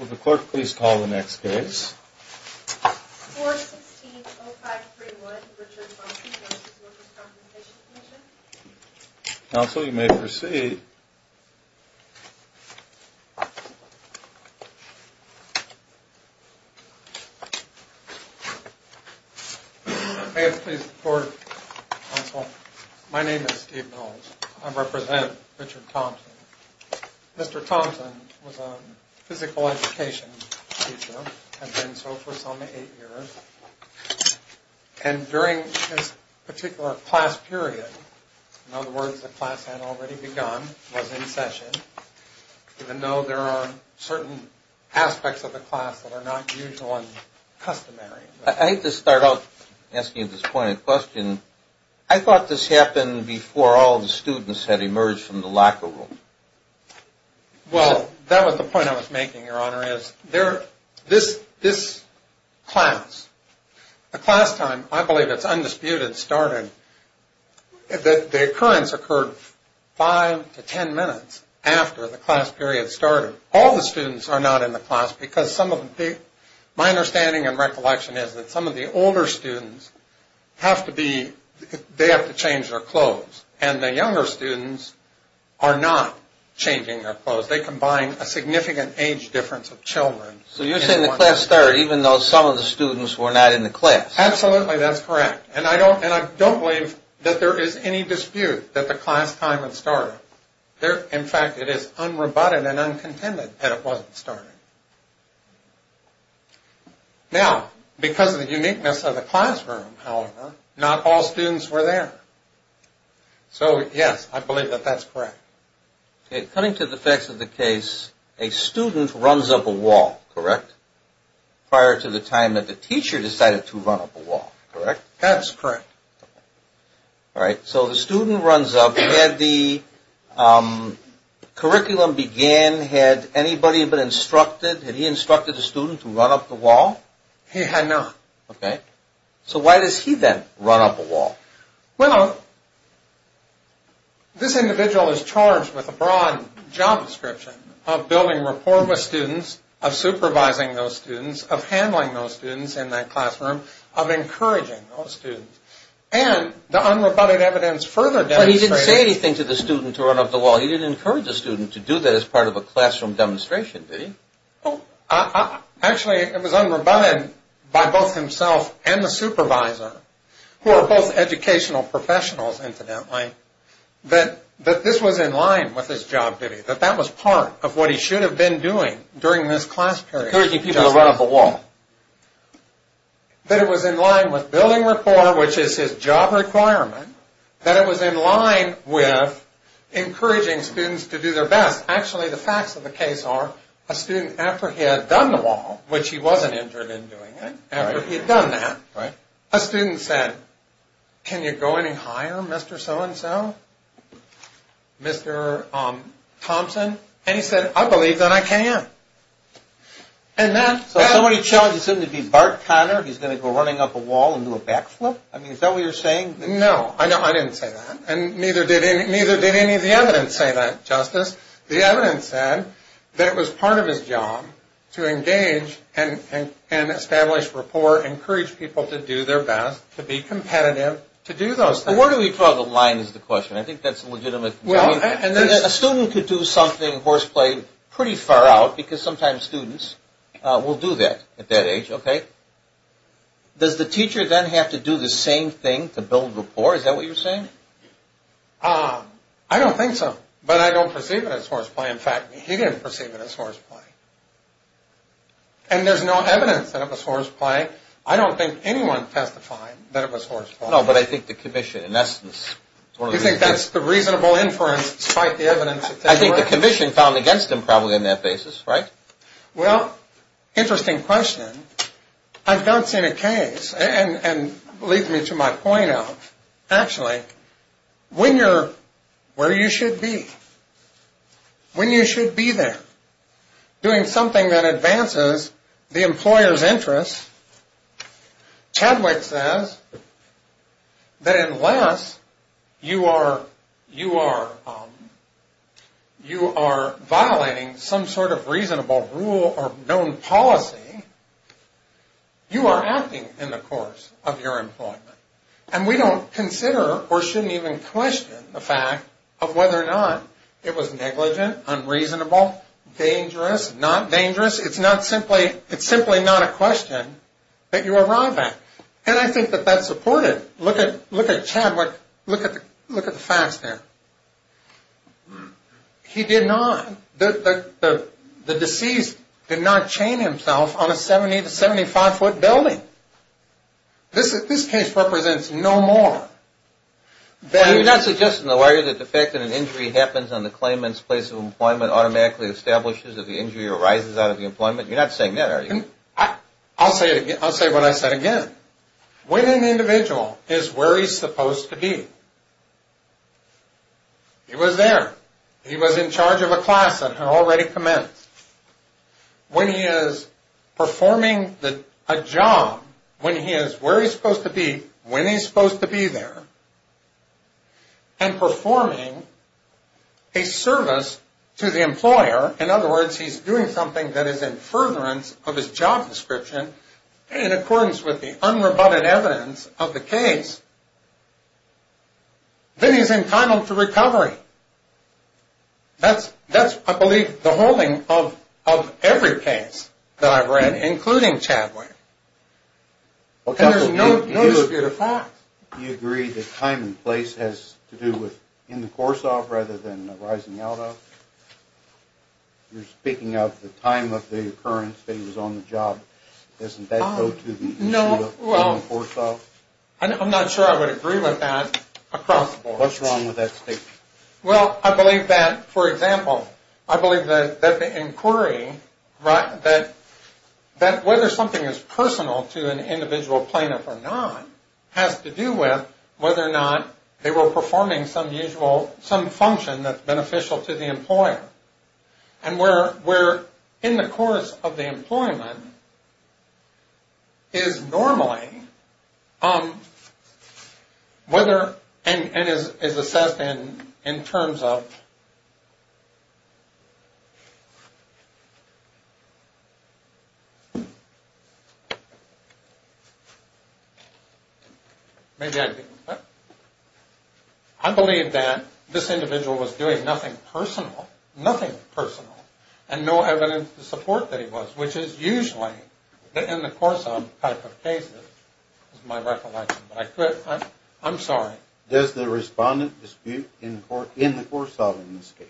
Would the court please call the next case? 416-0531, Richard Thompson v. Workers' Compensation Comm'n Counsel, you may proceed. May it please the court, counsel. My name is Steve Knowles. I represent Richard Thompson. Mr. Thompson was a physical education teacher and has been so for some eight years. And during his particular class period, in other words, the class had already begun, was in session, even though there are certain aspects of the class that are not usual and customary. I hate to start out asking you this pointed question. I thought this happened before all the students had emerged from the locker room. Well, that was the point I was making, Your Honor, is this class, the class time, I believe it's undisputed starting, the occurrence occurred five to ten minutes after the class period started. All the students are not in the class because some of the, my understanding and recollection is that some of the older students have to be, they have to change their clothes. And the younger students are not changing their clothes. They combine a significant age difference of children. So you're saying the class started even though some of the students were not in the class. Absolutely, that's correct. And I don't believe that there is any dispute that the class time had started. In fact, it is unrobotted and uncontended that it wasn't started. Now, because of the uniqueness of the classroom, however, not all students were there. So, yes, I believe that that's correct. Okay, coming to the facts of the case, a student runs up a wall, correct? Prior to the time that the teacher decided to run up a wall, correct? That's correct. All right, so the student runs up, had the curriculum began, had anybody been instructed, had he instructed the student to run up the wall? He had not. Okay, so why does he then run up a wall? Well, this individual is charged with a broad job description of building rapport with students, of supervising those students, of handling those students in that classroom, of encouraging those students. And the unrobotted evidence further demonstrates... But he didn't say anything to the student to run up the wall. He didn't encourage the student to do that as part of a classroom demonstration, did he? Actually, it was unrobotted by both himself and the supervisor, who are both educational professionals, incidentally, that this was in line with his job duty, that that was part of what he should have been doing during this class period. Encouraging people to run up a wall. That it was in line with building rapport, which is his job requirement, that it was in line with encouraging students to do their best. Actually, the facts of the case are, a student, after he had done the wall, which he wasn't injured in doing it, after he had done that, a student said, can you go any higher, Mr. So-and-so? Mr. Thompson? And he said, I believe that I can. So somebody challenged the student to be Bart Conner, he's going to go running up a wall and do a backflip? I mean, is that what you're saying? No, I didn't say that. And neither did any of the evidence say that, Justice. The evidence said that it was part of his job to engage and establish rapport, encourage people to do their best, to be competitive, to do those things. Well, where do we draw the line is the question. I think that's a legitimate... A student could do something, horseplay, pretty far out, because sometimes students will do that at that age, okay? Does the teacher then have to do the same thing to build rapport? Is that what you're saying? I don't think so, but I don't perceive it as horseplay. In fact, he didn't perceive it as horseplay. And there's no evidence that it was horseplay. I don't think anyone testified that it was horseplay. No, but I think the commission, in essence... You think that's the reasonable inference, despite the evidence? I think the commission found against him probably on that basis, right? Well, interesting question. I've not seen a case, and it leads me to my point of, actually, when you're where you should be, when you should be there, doing something that advances the employer's interests, Chadwick says that unless you are violating some sort of reasonable rule or known policy, you are acting in the course of your employment. And we don't consider, or shouldn't even question, the fact of whether or not it was negligent, unreasonable, dangerous, not dangerous. It's simply not a question that you arrive at. And I think that that's supported. Look at Chadwick. Look at the facts there. He did not... The deceased did not chain himself on a 70- to 75-foot building. This case represents no more than... Well, you're not suggesting, though, are you, that the fact that an injury happens on the claimant's place of employment automatically establishes that the injury arises out of the employment? You're not saying that, are you? I'll say what I said again. When an individual is where he's supposed to be, he was there, he was in charge of a class that had already commenced. When he is performing a job, when he is where he's supposed to be, when he's supposed to be there, and performing a service to the employer, in other words, he's doing something that is in furtherance of his job description, in accordance with the unrebutted evidence of the case, then he's entitled to recovery. That's, I believe, the holding of every case that I've read, including Chadwick. And there's no dispute of fact. Do you agree that time and place has to do with in the course of rather than arising out of? You're speaking of the time of the occurrence that he was on the job. Doesn't that go to the issue of in the course of? I'm not sure I would agree with that across the board. What's wrong with that statement? Well, I believe that, for example, I believe that the inquiry, that whether something is personal to an individual plaintiff or not has to do with whether or not they were performing some usual, some function that's beneficial to the employer. And where in the course of the employment is normally whether, and is assessed in terms of, I believe that this individual was doing nothing personal, nothing personal, and no evidence to support that he was, which is usually in the course of type of cases is my recollection. I'm sorry. Does the respondent dispute in the course of in this case?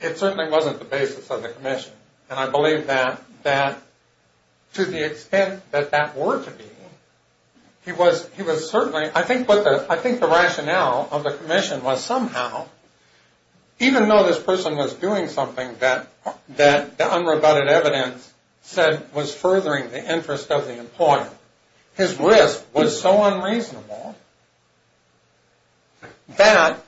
It certainly wasn't the basis of the commission. And I believe that to the extent that that were to be, he was certainly, I think the rationale of the commission was somehow, even though this person was doing something that the unrebutted evidence said was furthering the interest of the employer, his risk was so unreasonable that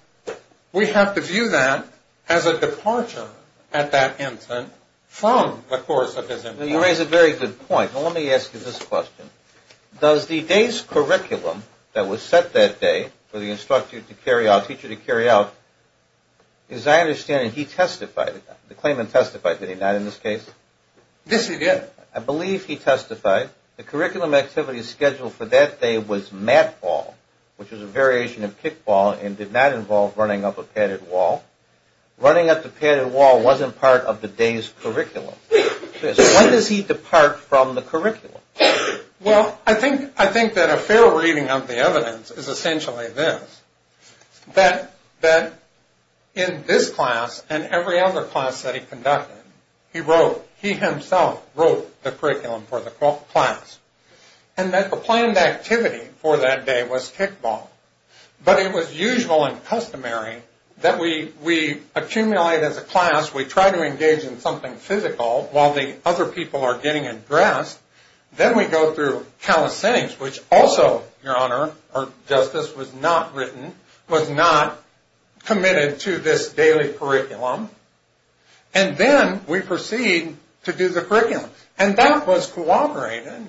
we have to view that as a departure at that instant from the course of his employment. You raise a very good point. Now, let me ask you this question. Does the day's curriculum that was set that day for the instructor to carry out, teacher to carry out, as I understand it, he testified, the claimant testified, did he not, in this case? Yes, he did. I believe he testified. The curriculum activity scheduled for that day was mat ball, which was a variation of kickball and did not involve running up a padded wall. Running up the padded wall wasn't part of the day's curriculum. When does he depart from the curriculum? Well, I think that a fair reading of the evidence is essentially this, that in this class and every other class that he conducted, he wrote, he himself wrote the curriculum for the class, and that the planned activity for that day was kickball. But it was usual and customary that we accumulate as a class, we try to engage in something physical while the other people are getting addressed. Then we go through count of settings, which also, your honor, or justice, was not written, was not committed to this daily curriculum, and then we proceed to do the curriculum. And that was cooperated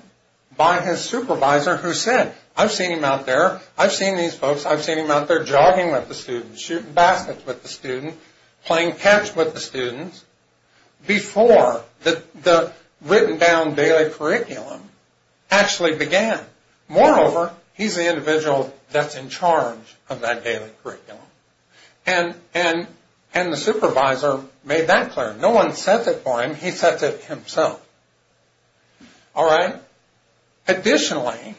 by his supervisor who said, I've seen him out there, I've seen these folks, I've seen him out there jogging with the students, shooting baskets with the students, playing catch with the students, before the written down daily curriculum actually began. Moreover, he's the individual that's in charge of that daily curriculum. And the supervisor made that clear. No one sets it for him, he sets it himself. All right? Additionally,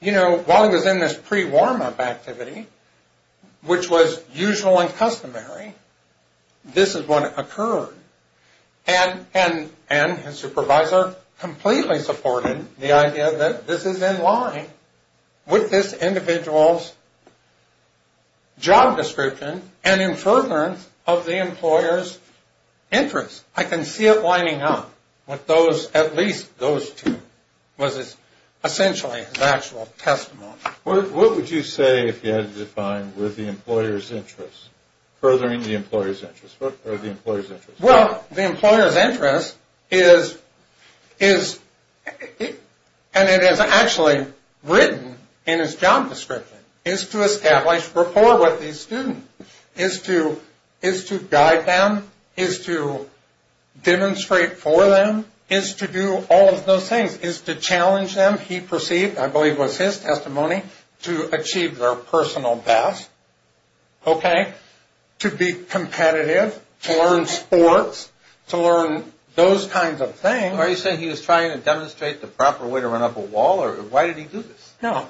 you know, while he was in this pre-warm-up activity, which was usual and customary, this is what occurred. And his supervisor completely supported the idea that this is in line with this individual's job description and in furtherance of the employer's interest. I can see it lining up, what those, at least those two, was essentially his actual testimony. What would you say, if you had to define, were the employer's interests? Furthering the employer's interest, or the employer's interest. Well, the employer's interest is, and it is actually written in his job description, is to establish rapport with these students. Is to guide them, is to demonstrate for them, is to do all of those things. Is to challenge them, he perceived, I believe was his testimony, to achieve their personal best, okay? To be competitive, to learn sports, to learn those kinds of things. Are you saying he was trying to demonstrate the proper way to run up a wall, or why did he do this? No,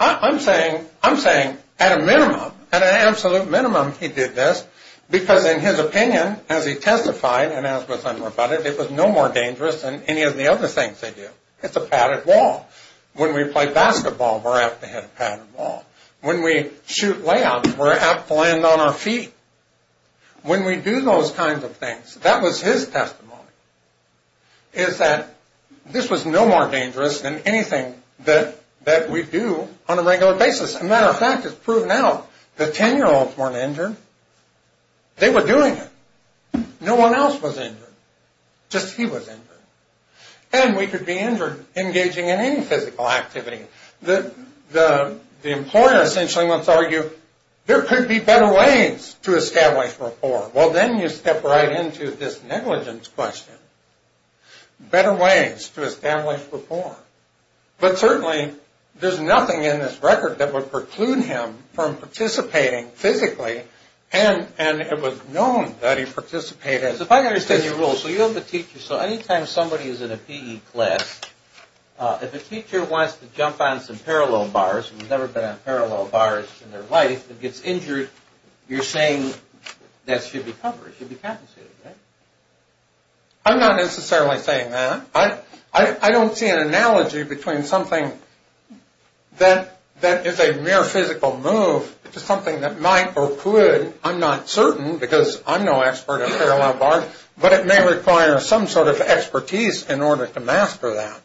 I'm saying, I'm saying, at a minimum, at an absolute minimum, he did this. Because in his opinion, as he testified, and as was said before about it, it was no more dangerous than any of the other things they do. It's a padded wall. When we play basketball, we're apt to hit a padded wall. When we shoot layups, we're apt to land on our feet. When we do those kinds of things, that was his testimony, is that this was no more dangerous than anything that we do on a regular basis. As a matter of fact, it's proven out, the 10-year-olds weren't injured. They were doing it. No one else was injured. Just he was injured. And we could be injured engaging in any physical activity. The employer essentially must argue, there could be better ways to establish rapport. Well, then you step right into this negligence question. Better ways to establish rapport. But certainly, there's nothing in this record that would preclude him from participating physically, and it was known that he participated. If I understand your rule, so you have a teacher. So any time somebody is in a PE class, if a teacher wants to jump on some parallel bars, and he's never been on parallel bars in their life, and gets injured, you're saying that should be covered, should be compensated, right? I'm not necessarily saying that. I don't see an analogy between something that is a mere physical move to something that might or could. I'm not certain because I'm no expert on parallel bars, but it may require some sort of expertise in order to master that.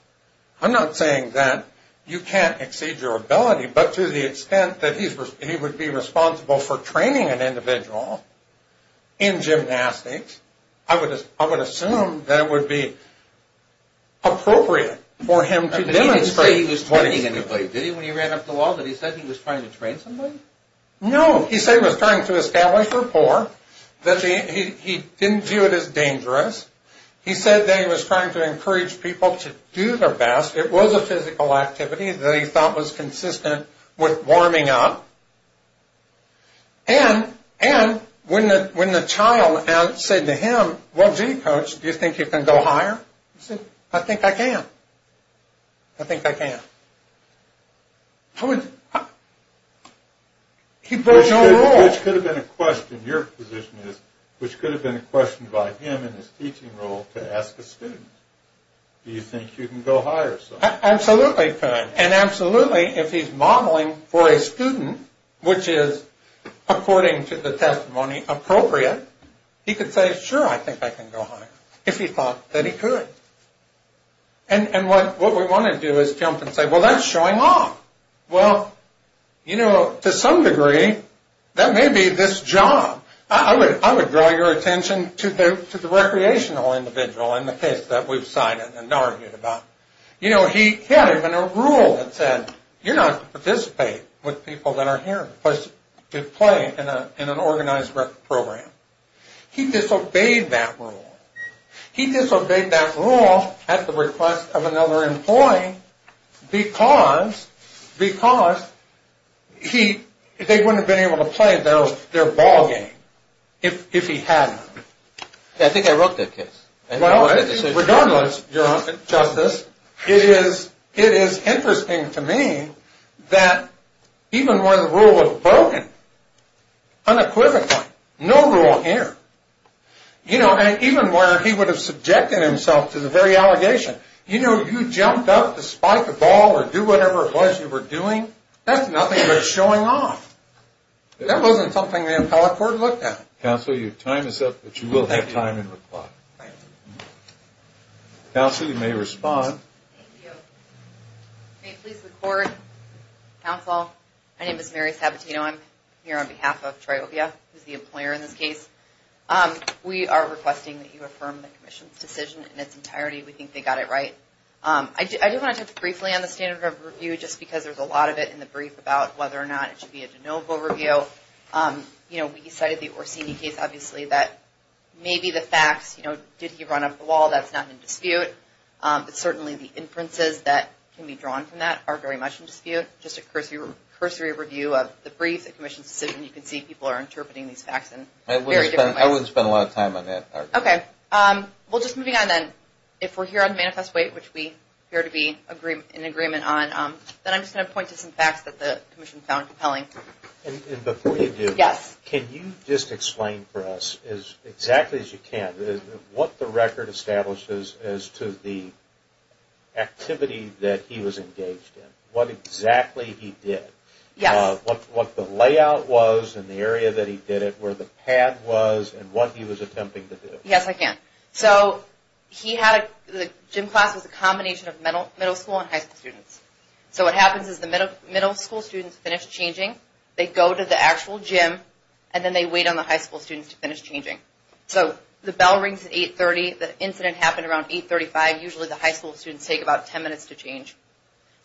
I'm not saying that you can't exceed your ability, but to the extent that he would be responsible for training an individual in gymnastics, I would assume that it would be appropriate for him to demonstrate. But he didn't say he was training anybody, did he, when he ran up the wall, that he said he was trying to train somebody? No, he said he was trying to establish rapport, that he didn't view it as dangerous. He said that he was trying to encourage people to do their best. It was a physical activity that he thought was consistent with warming up. And when the child said to him, well, gee, coach, do you think you can go higher? He said, I think I can. I think I can. He played no role. Which could have been a question, your position is, which could have been a question by him in his teaching role to ask a student, do you think you can go higher? Absolutely he could. And absolutely, if he's modeling for a student, which is, according to the testimony, appropriate, he could say, sure, I think I can go higher, if he thought that he could. And what we want to do is jump and say, well, that's showing off. Well, you know, to some degree, that may be this job. I would draw your attention to the recreational individual in the case that we've cited and argued about. You know, he had even a rule that said, you're not to participate with people that are here to play in an organized program. He disobeyed that rule. He disobeyed that rule at the request of another employee, because they wouldn't have been able to play their ball game if he hadn't. I think I wrote that case. Regardless, your Honor, Justice, it is interesting to me that even when the rule was broken, unequivocally, no rule here. You know, and even where he would have subjected himself to the very allegation, you know, you jumped up to spike the ball or do whatever it was you were doing, that's nothing but showing off. That wasn't something the appellate court looked at. Counsel, your time is up, but you will have time in reply. Counsel, you may respond. Thank you. May it please the Court, Counsel, my name is Mary Sabatino. I'm here on behalf of Triopia, who's the employer in this case. We are requesting that you affirm the Commission's decision in its entirety. We think they got it right. I do want to touch briefly on the standard of review, just because there's a lot of it in the brief about whether or not it should be a de novo review. You know, we cited the Orsini case, obviously, that maybe the facts, you know, did he run up the wall, that's not in dispute. But certainly the inferences that can be drawn from that are very much in dispute. Just a cursory review of the brief, the Commission's decision, you can see people are interpreting these facts in very different ways. I wouldn't spend a lot of time on that. Okay. Well, just moving on then, if we're here on manifest weight, which we appear to be in agreement on, then I'm just going to point to some facts that the Commission found compelling. And before you do, can you just explain for us, as exactly as you can, what the record establishes as to the activity that he was engaged in? What exactly he did. Yes. What the layout was in the area that he did it, where the pad was, and what he was attempting to do. Yes, I can. So he had a gym class that was a combination of middle school and high school students. So what happens is the middle school students finish changing, they go to the actual gym, and then they wait on the high school students to finish changing. So the bell rings at 8.30, the incident happened around 8.35, usually the high school students take about 10 minutes to change.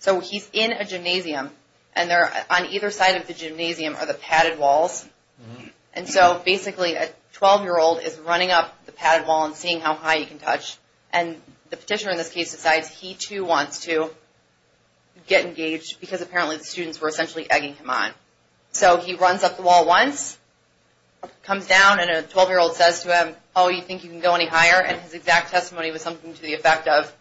So he's in a gymnasium, and on either side of the gymnasium are the padded walls. And so basically a 12-year-old is running up the padded wall and seeing how high he can touch. And the petitioner in this case decides he too wants to get engaged, because apparently the students were essentially egging him on. So he runs up the wall once, comes down, and a 12-year-old says to him, oh, you think you can go any higher? And his exact testimony was something to the effect of,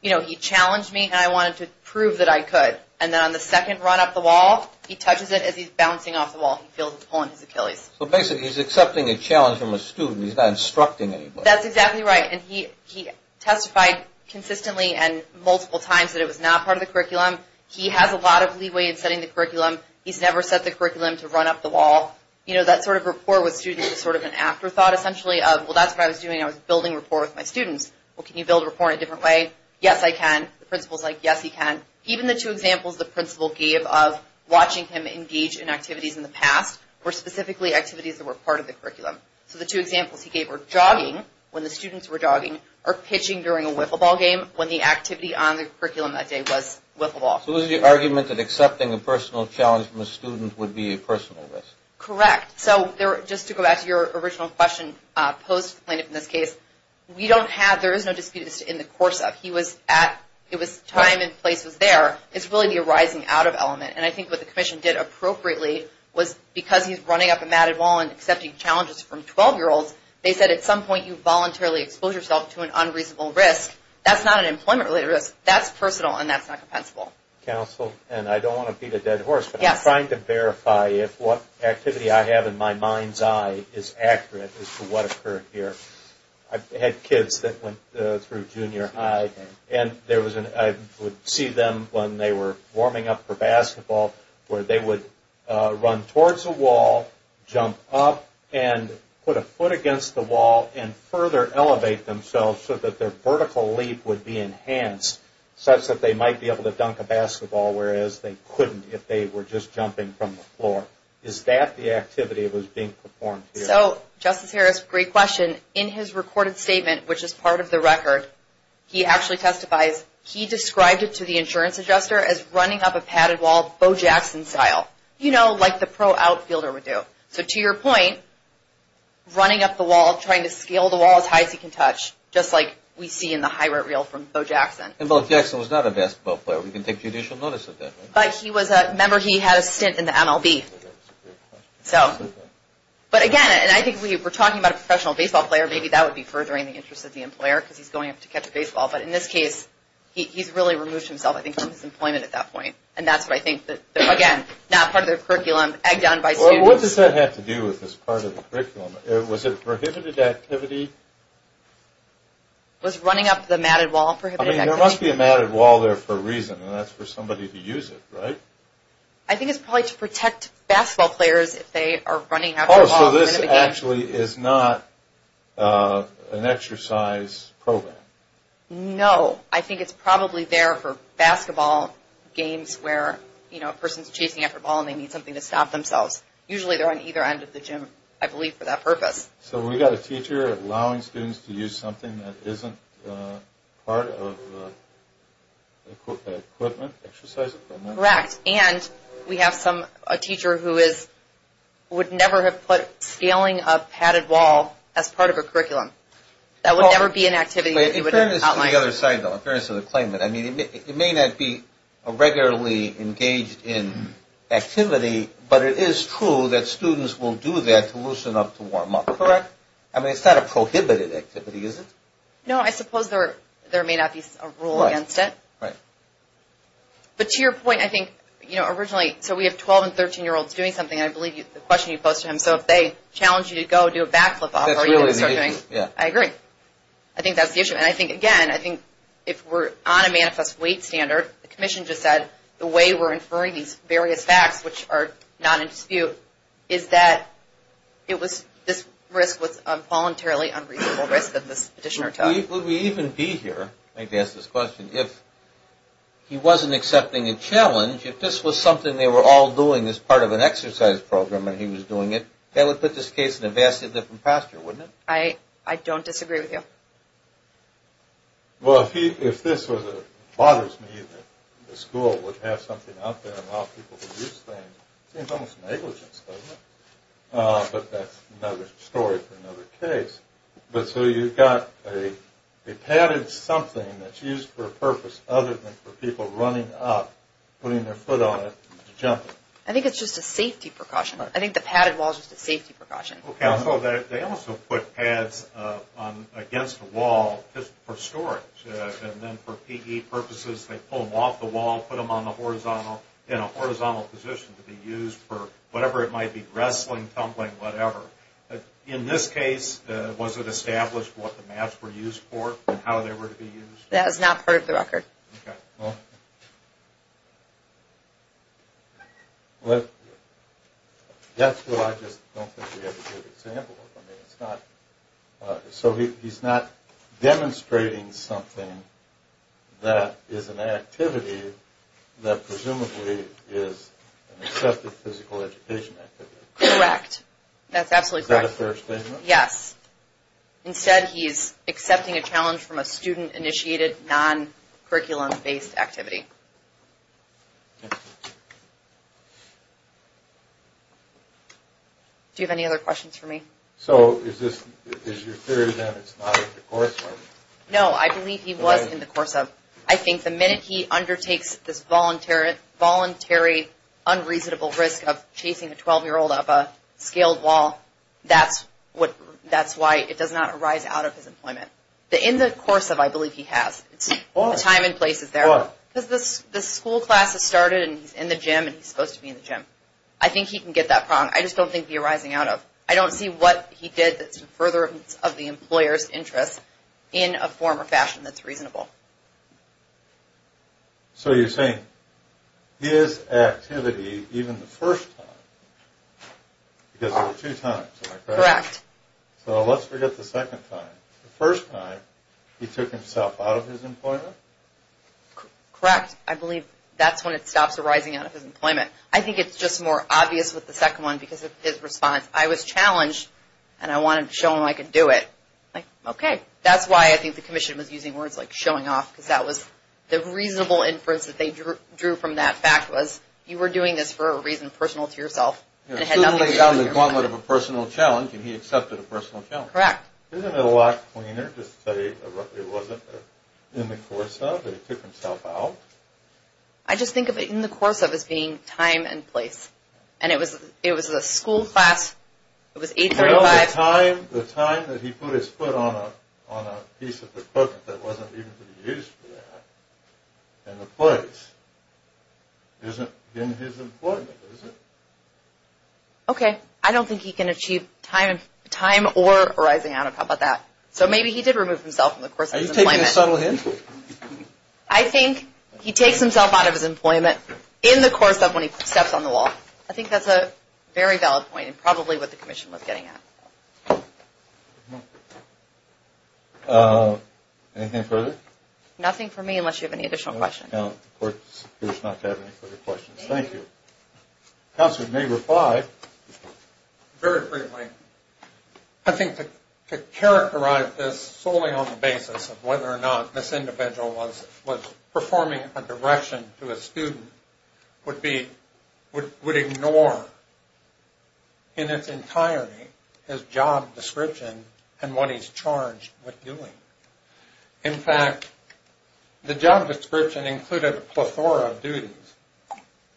you know, he challenged me and I wanted to prove that I could. And then on the second run up the wall, he touches it as he's bouncing off the wall, he feels a pull on his Achilles. So basically he's accepting a challenge from a student, he's not instructing anybody. That's exactly right. And he testified consistently and multiple times that it was not part of the curriculum. He has a lot of leeway in setting the curriculum. He's never set the curriculum to run up the wall. You know, that sort of rapport with students is sort of an afterthought, essentially of, well, that's what I was doing, I was building rapport with my students. Well, can you build rapport in a different way? Yes, I can. The principal's like, yes, he can. Even the two examples the principal gave of watching him engage in activities in the past were specifically activities that were part of the curriculum. So the two examples he gave were jogging, when the students were jogging, or pitching during a wiffle ball game, when the activity on the curriculum that day was wiffle ball. So it was the argument that accepting a personal challenge from a student would be a personal risk. Correct. So just to go back to your original question, post-complainant in this case, we don't have, there is no dispute in the course of, he was at, it was time and place was there. It's really the arising out of element. And I think what the commission did appropriately was, because he's running up a matted wall and accepting challenges from 12-year-olds, they said at some point you voluntarily expose yourself to an unreasonable risk. That's not an employment-related risk. That's personal, and that's not compensable. Counsel, and I don't want to beat a dead horse, but I'm trying to verify if what activity I have in my mind's eye is accurate as to what occurred here. I had kids that went through junior high, and there was an, I would see them when they were warming up for basketball, where they would run towards a wall, jump up, and put a foot against the wall, and further elevate themselves so that their vertical leap would be enhanced, such that they might be able to dunk a basketball, whereas they couldn't if they were just jumping from the floor. Is that the activity that was being performed here? So, Justice Harris, great question. In his recorded statement, which is part of the record, he actually testifies, he described it to the insurance adjuster as running up a padded wall, Bo Jackson style, you know, like the pro outfielder would do. So, to your point, running up the wall, trying to scale the wall as high as he can touch, just like we see in the high-rate reel from Bo Jackson. And Bo Jackson was not a basketball player. We can take judicial notice of that, right? But he was a member. He had a stint in the MLB. So, but again, and I think we were talking about a professional baseball player, maybe that would be furthering the interest of the employer, because he's going up to catch a baseball. But in this case, he's really removed himself, I think, from his employment at that point. And that's what I think that, again, not part of the curriculum, egged on by students. Well, what does that have to do with this part of the curriculum? Was it prohibited activity? Was running up the matted wall prohibited activity? I mean, there must be a matted wall there for a reason, and that's for somebody to use it, right? I think it's probably to protect basketball players if they are running after a ball. Oh, so this actually is not an exercise program? No. I think it's probably there for basketball games where, you know, a person's chasing after a ball and they need something to stop themselves. Usually, they're on either end of the gym, I believe, for that purpose. So we've got a teacher allowing students to use something that isn't part of equipment, exercise equipment? Correct. And we have a teacher who would never have put scaling a padded wall as part of a curriculum. That would never be an activity that he would outline. In fairness to the other side, though, in fairness to the claimant, I mean, it may not be a regularly engaged in activity, but it is true that students will do that to loosen up to warm up, correct? I mean, it's not a prohibited activity, is it? No, I suppose there may not be a rule against it. Right. But to your point, I think, you know, originally, so we have 12 and 13-year-olds doing something, and I believe the question you posed to him, so if they challenge you to go do a backflip off, are you going to start doing it? That's really the issue, yeah. I agree. I think that's the issue. And I think, again, I think if we're on a manifest weight standard, the commission just said, the way we're inferring these various facts, which are not in dispute, is that it was this risk was a voluntarily unreasonable risk that this petitioner took. Would we even be here, I guess, to ask this question, if he wasn't accepting a challenge, if this was something they were all doing as part of an exercise program and he was doing it, that would put this case in a vastly different posture, wouldn't it? I don't disagree with you. Well, if this was a bothers me that the school would have something out there and allow people to use things, it seems almost negligence, doesn't it? But that's another story for another case. But so you've got a padded something that's used for a purpose other than for people running up, putting their foot on it and jumping. I think it's just a safety precaution. I think the padded wall is just a safety precaution. They also put pads against the wall just for storage. And then for PE purposes, they pull them off the wall, put them on the horizontal, in a horizontal position to be used for whatever it might be, wrestling, tumbling, whatever. In this case, was it established what the mats were used for and how they were to be used? That is not part of the record. So he's not demonstrating something that is an activity that presumably is an accepted physical education activity. Correct. That's absolutely correct. Is that a fair statement? Yes. Instead, he's accepting a challenge from a student-initiated, non-curriculum-based activity. Do you have any other questions for me? So is your theory that it's not in the coursework? No, I believe he was in the course of. I think the minute he undertakes this voluntary, unreasonable risk of chasing a 12-year-old up a scaled wall, that's why it does not arise out of his employment. In the course of, I believe he has. Why? The time and place is there. Why? Because the school class has started and he's in the gym and he's supposed to be in the gym. I think he can get that problem. I just don't think the arising out of. I don't see what he did that's in furtherance of the employer's interest in a form or fashion that's reasonable. So you're saying his activity, even the first time, because there were two times. Correct. So let's forget the second time. The first time, he took himself out of his employment? Correct. I believe that's when it stops arising out of his employment. I think it's just more obvious with the second one because of his response. I was challenged and I wanted to show him I could do it. Like, okay. That's why I think the commission was using words like showing off because that was the reasonable inference that they drew from that fact was, you were doing this for a reason personal to yourself. And it had nothing to do with your employment. It certainly was on the gauntlet of a personal challenge and he accepted a personal challenge. Correct. Isn't it a lot cleaner to say it wasn't in the course of and he took himself out? I just think of it in the course of as being time and place. And it was a school class. It was 835. The time that he put his foot on a piece of equipment that wasn't even to be used for that in the place isn't in his employment, is it? Okay. I don't think he can achieve time or arising out of it. How about that? So maybe he did remove himself in the course of his employment. Are you taking a subtle hint? I think he takes himself out of his employment in the course of when he steps on the wall. I think that's a very valid point and probably what the commission was getting at. Anything further? Nothing for me unless you have any additional questions. No. The court appears not to have any further questions. Thank you. Counselor, may we reply? Very briefly. I think to characterize this solely on the basis of whether or not this individual was performing a direction to a student would ignore in its entirety his job description and what he's charged with doing. In fact, the job description included a plethora of duties,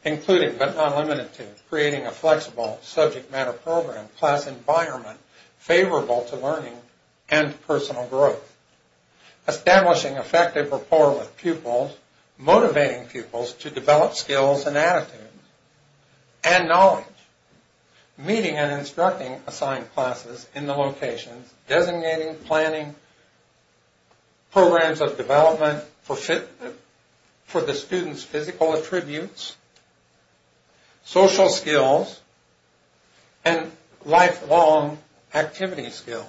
including but not limited to creating a flexible subject matter program, class environment favorable to learning and personal growth, establishing effective rapport with pupils, motivating pupils to develop skills and attitudes, and knowledge, meeting and instructing assigned classes in the locations, designating, planning programs of development for the student's physical attributes, social skills, and lifelong activity skills.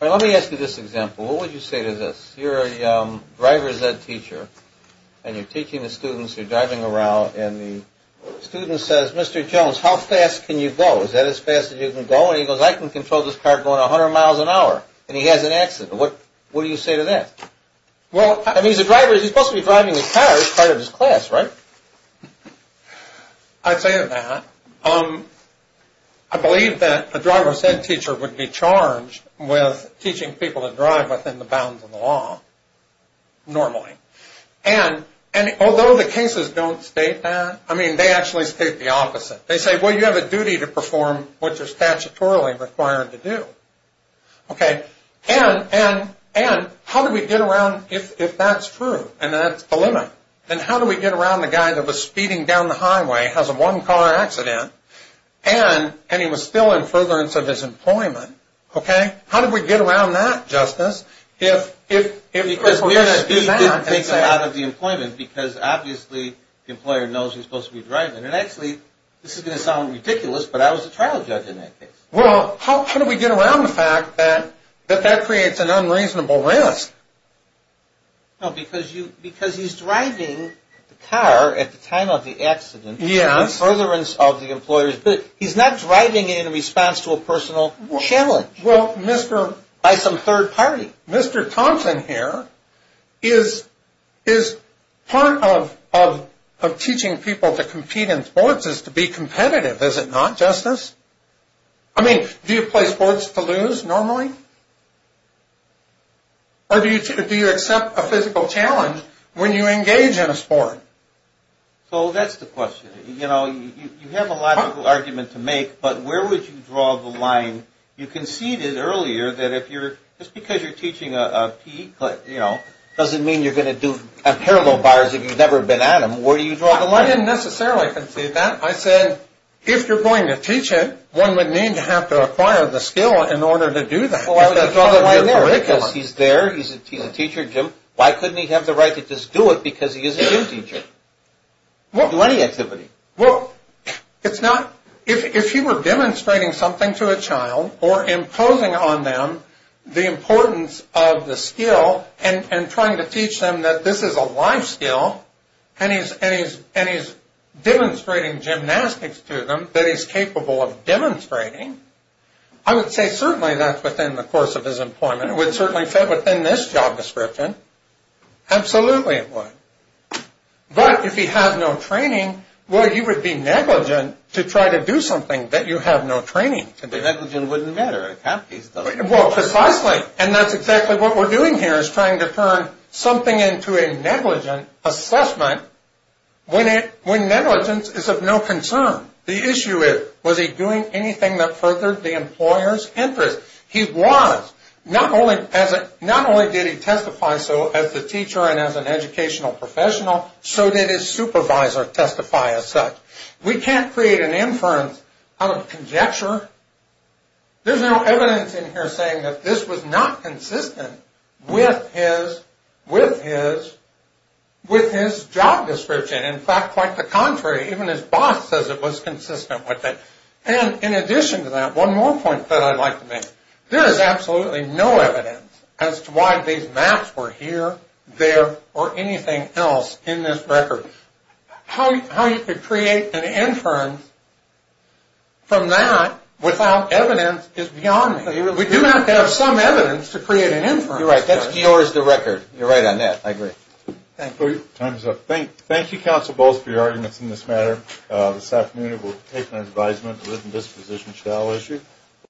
Let me ask you this example. What would you say to this? You're a driver's ed teacher and you're teaching the students. You're driving around and the student says, Mr. Jones, how fast can you go? Is that as fast as you can go? And he goes, I can control this car going 100 miles an hour. And he has an accident. What do you say to that? I mean, he's a driver. He's supposed to be driving his car as part of his class, right? I'd say that. I believe that a driver's ed teacher would be charged with teaching people to drive within the bounds of the law normally. And although the cases don't state that, I mean, they actually state the opposite. They say, well, you have a duty to perform what you're statutorily required to do. Okay. And how do we get around if that's true and that's the limit? And how do we get around the guy that was speeding down the highway, has a one-car accident, and he was still in furtherance of his employment? Okay? How do we get around that, Justice? Because we didn't take him out of the employment because obviously the employer knows he's supposed to be driving. And actually, this is going to sound ridiculous, but I was a trial judge in that case. Well, how do we get around the fact that that creates an unreasonable risk? No, because he's driving the car at the time of the accident. Yes. In furtherance of the employer's, but he's not driving in response to a personal challenge. Well, Mr. By some third party. Mr. Thompson here is part of teaching people to compete in sports is to be competitive, is it not, Justice? I mean, do you play sports to lose normally? Or do you accept a physical challenge when you engage in a sport? So that's the question. You know, you have a logical argument to make, but where would you draw the line? You conceded earlier that if you're, just because you're teaching a PE class, you know, doesn't mean you're going to do a parallel bars if you've never been at them. Where do you draw the line? Well, I didn't necessarily concede that. I said, if you're going to teach it, one would need to have to acquire the skill in order to do that. He's there. He's a teacher, Jim. Why couldn't he have the right to just do it because he is a gym teacher? Do any activity. Well, it's not. If you were demonstrating something to a child or imposing on them the importance of the skill and trying to teach them that this is a life skill. And he's demonstrating gymnastics to them that he's capable of demonstrating. I would say certainly that's within the course of his employment. It would certainly fit within this job description. Absolutely it would. But if he has no training, well, you would be negligent to try to do something that you have no training to do. Negligent wouldn't matter. Well, precisely. And that's exactly what we're doing here is trying to turn something into a negligent assessment when negligence is of no concern. The issue is, was he doing anything that furthered the employer's interest? He was. Not only did he testify so as a teacher and as an educational professional, so did his supervisor testify as such. We can't create an inference out of conjecture. There's no evidence in here saying that this was not consistent with his job description. In fact, quite the contrary. Even his boss says it was consistent with it. And in addition to that, one more point that I'd like to make. There is absolutely no evidence as to why these maps were here, there, or anything else in this record. How you could create an inference from that without evidence is beyond me. We do have to have some evidence to create an inference. You're right. That's yours, the record. You're right on that. I agree. Thank you. Time's up. Thank you, Counsel Bowles, for your arguments in this matter. This afternoon we'll take an advisement, a written disposition shall issue.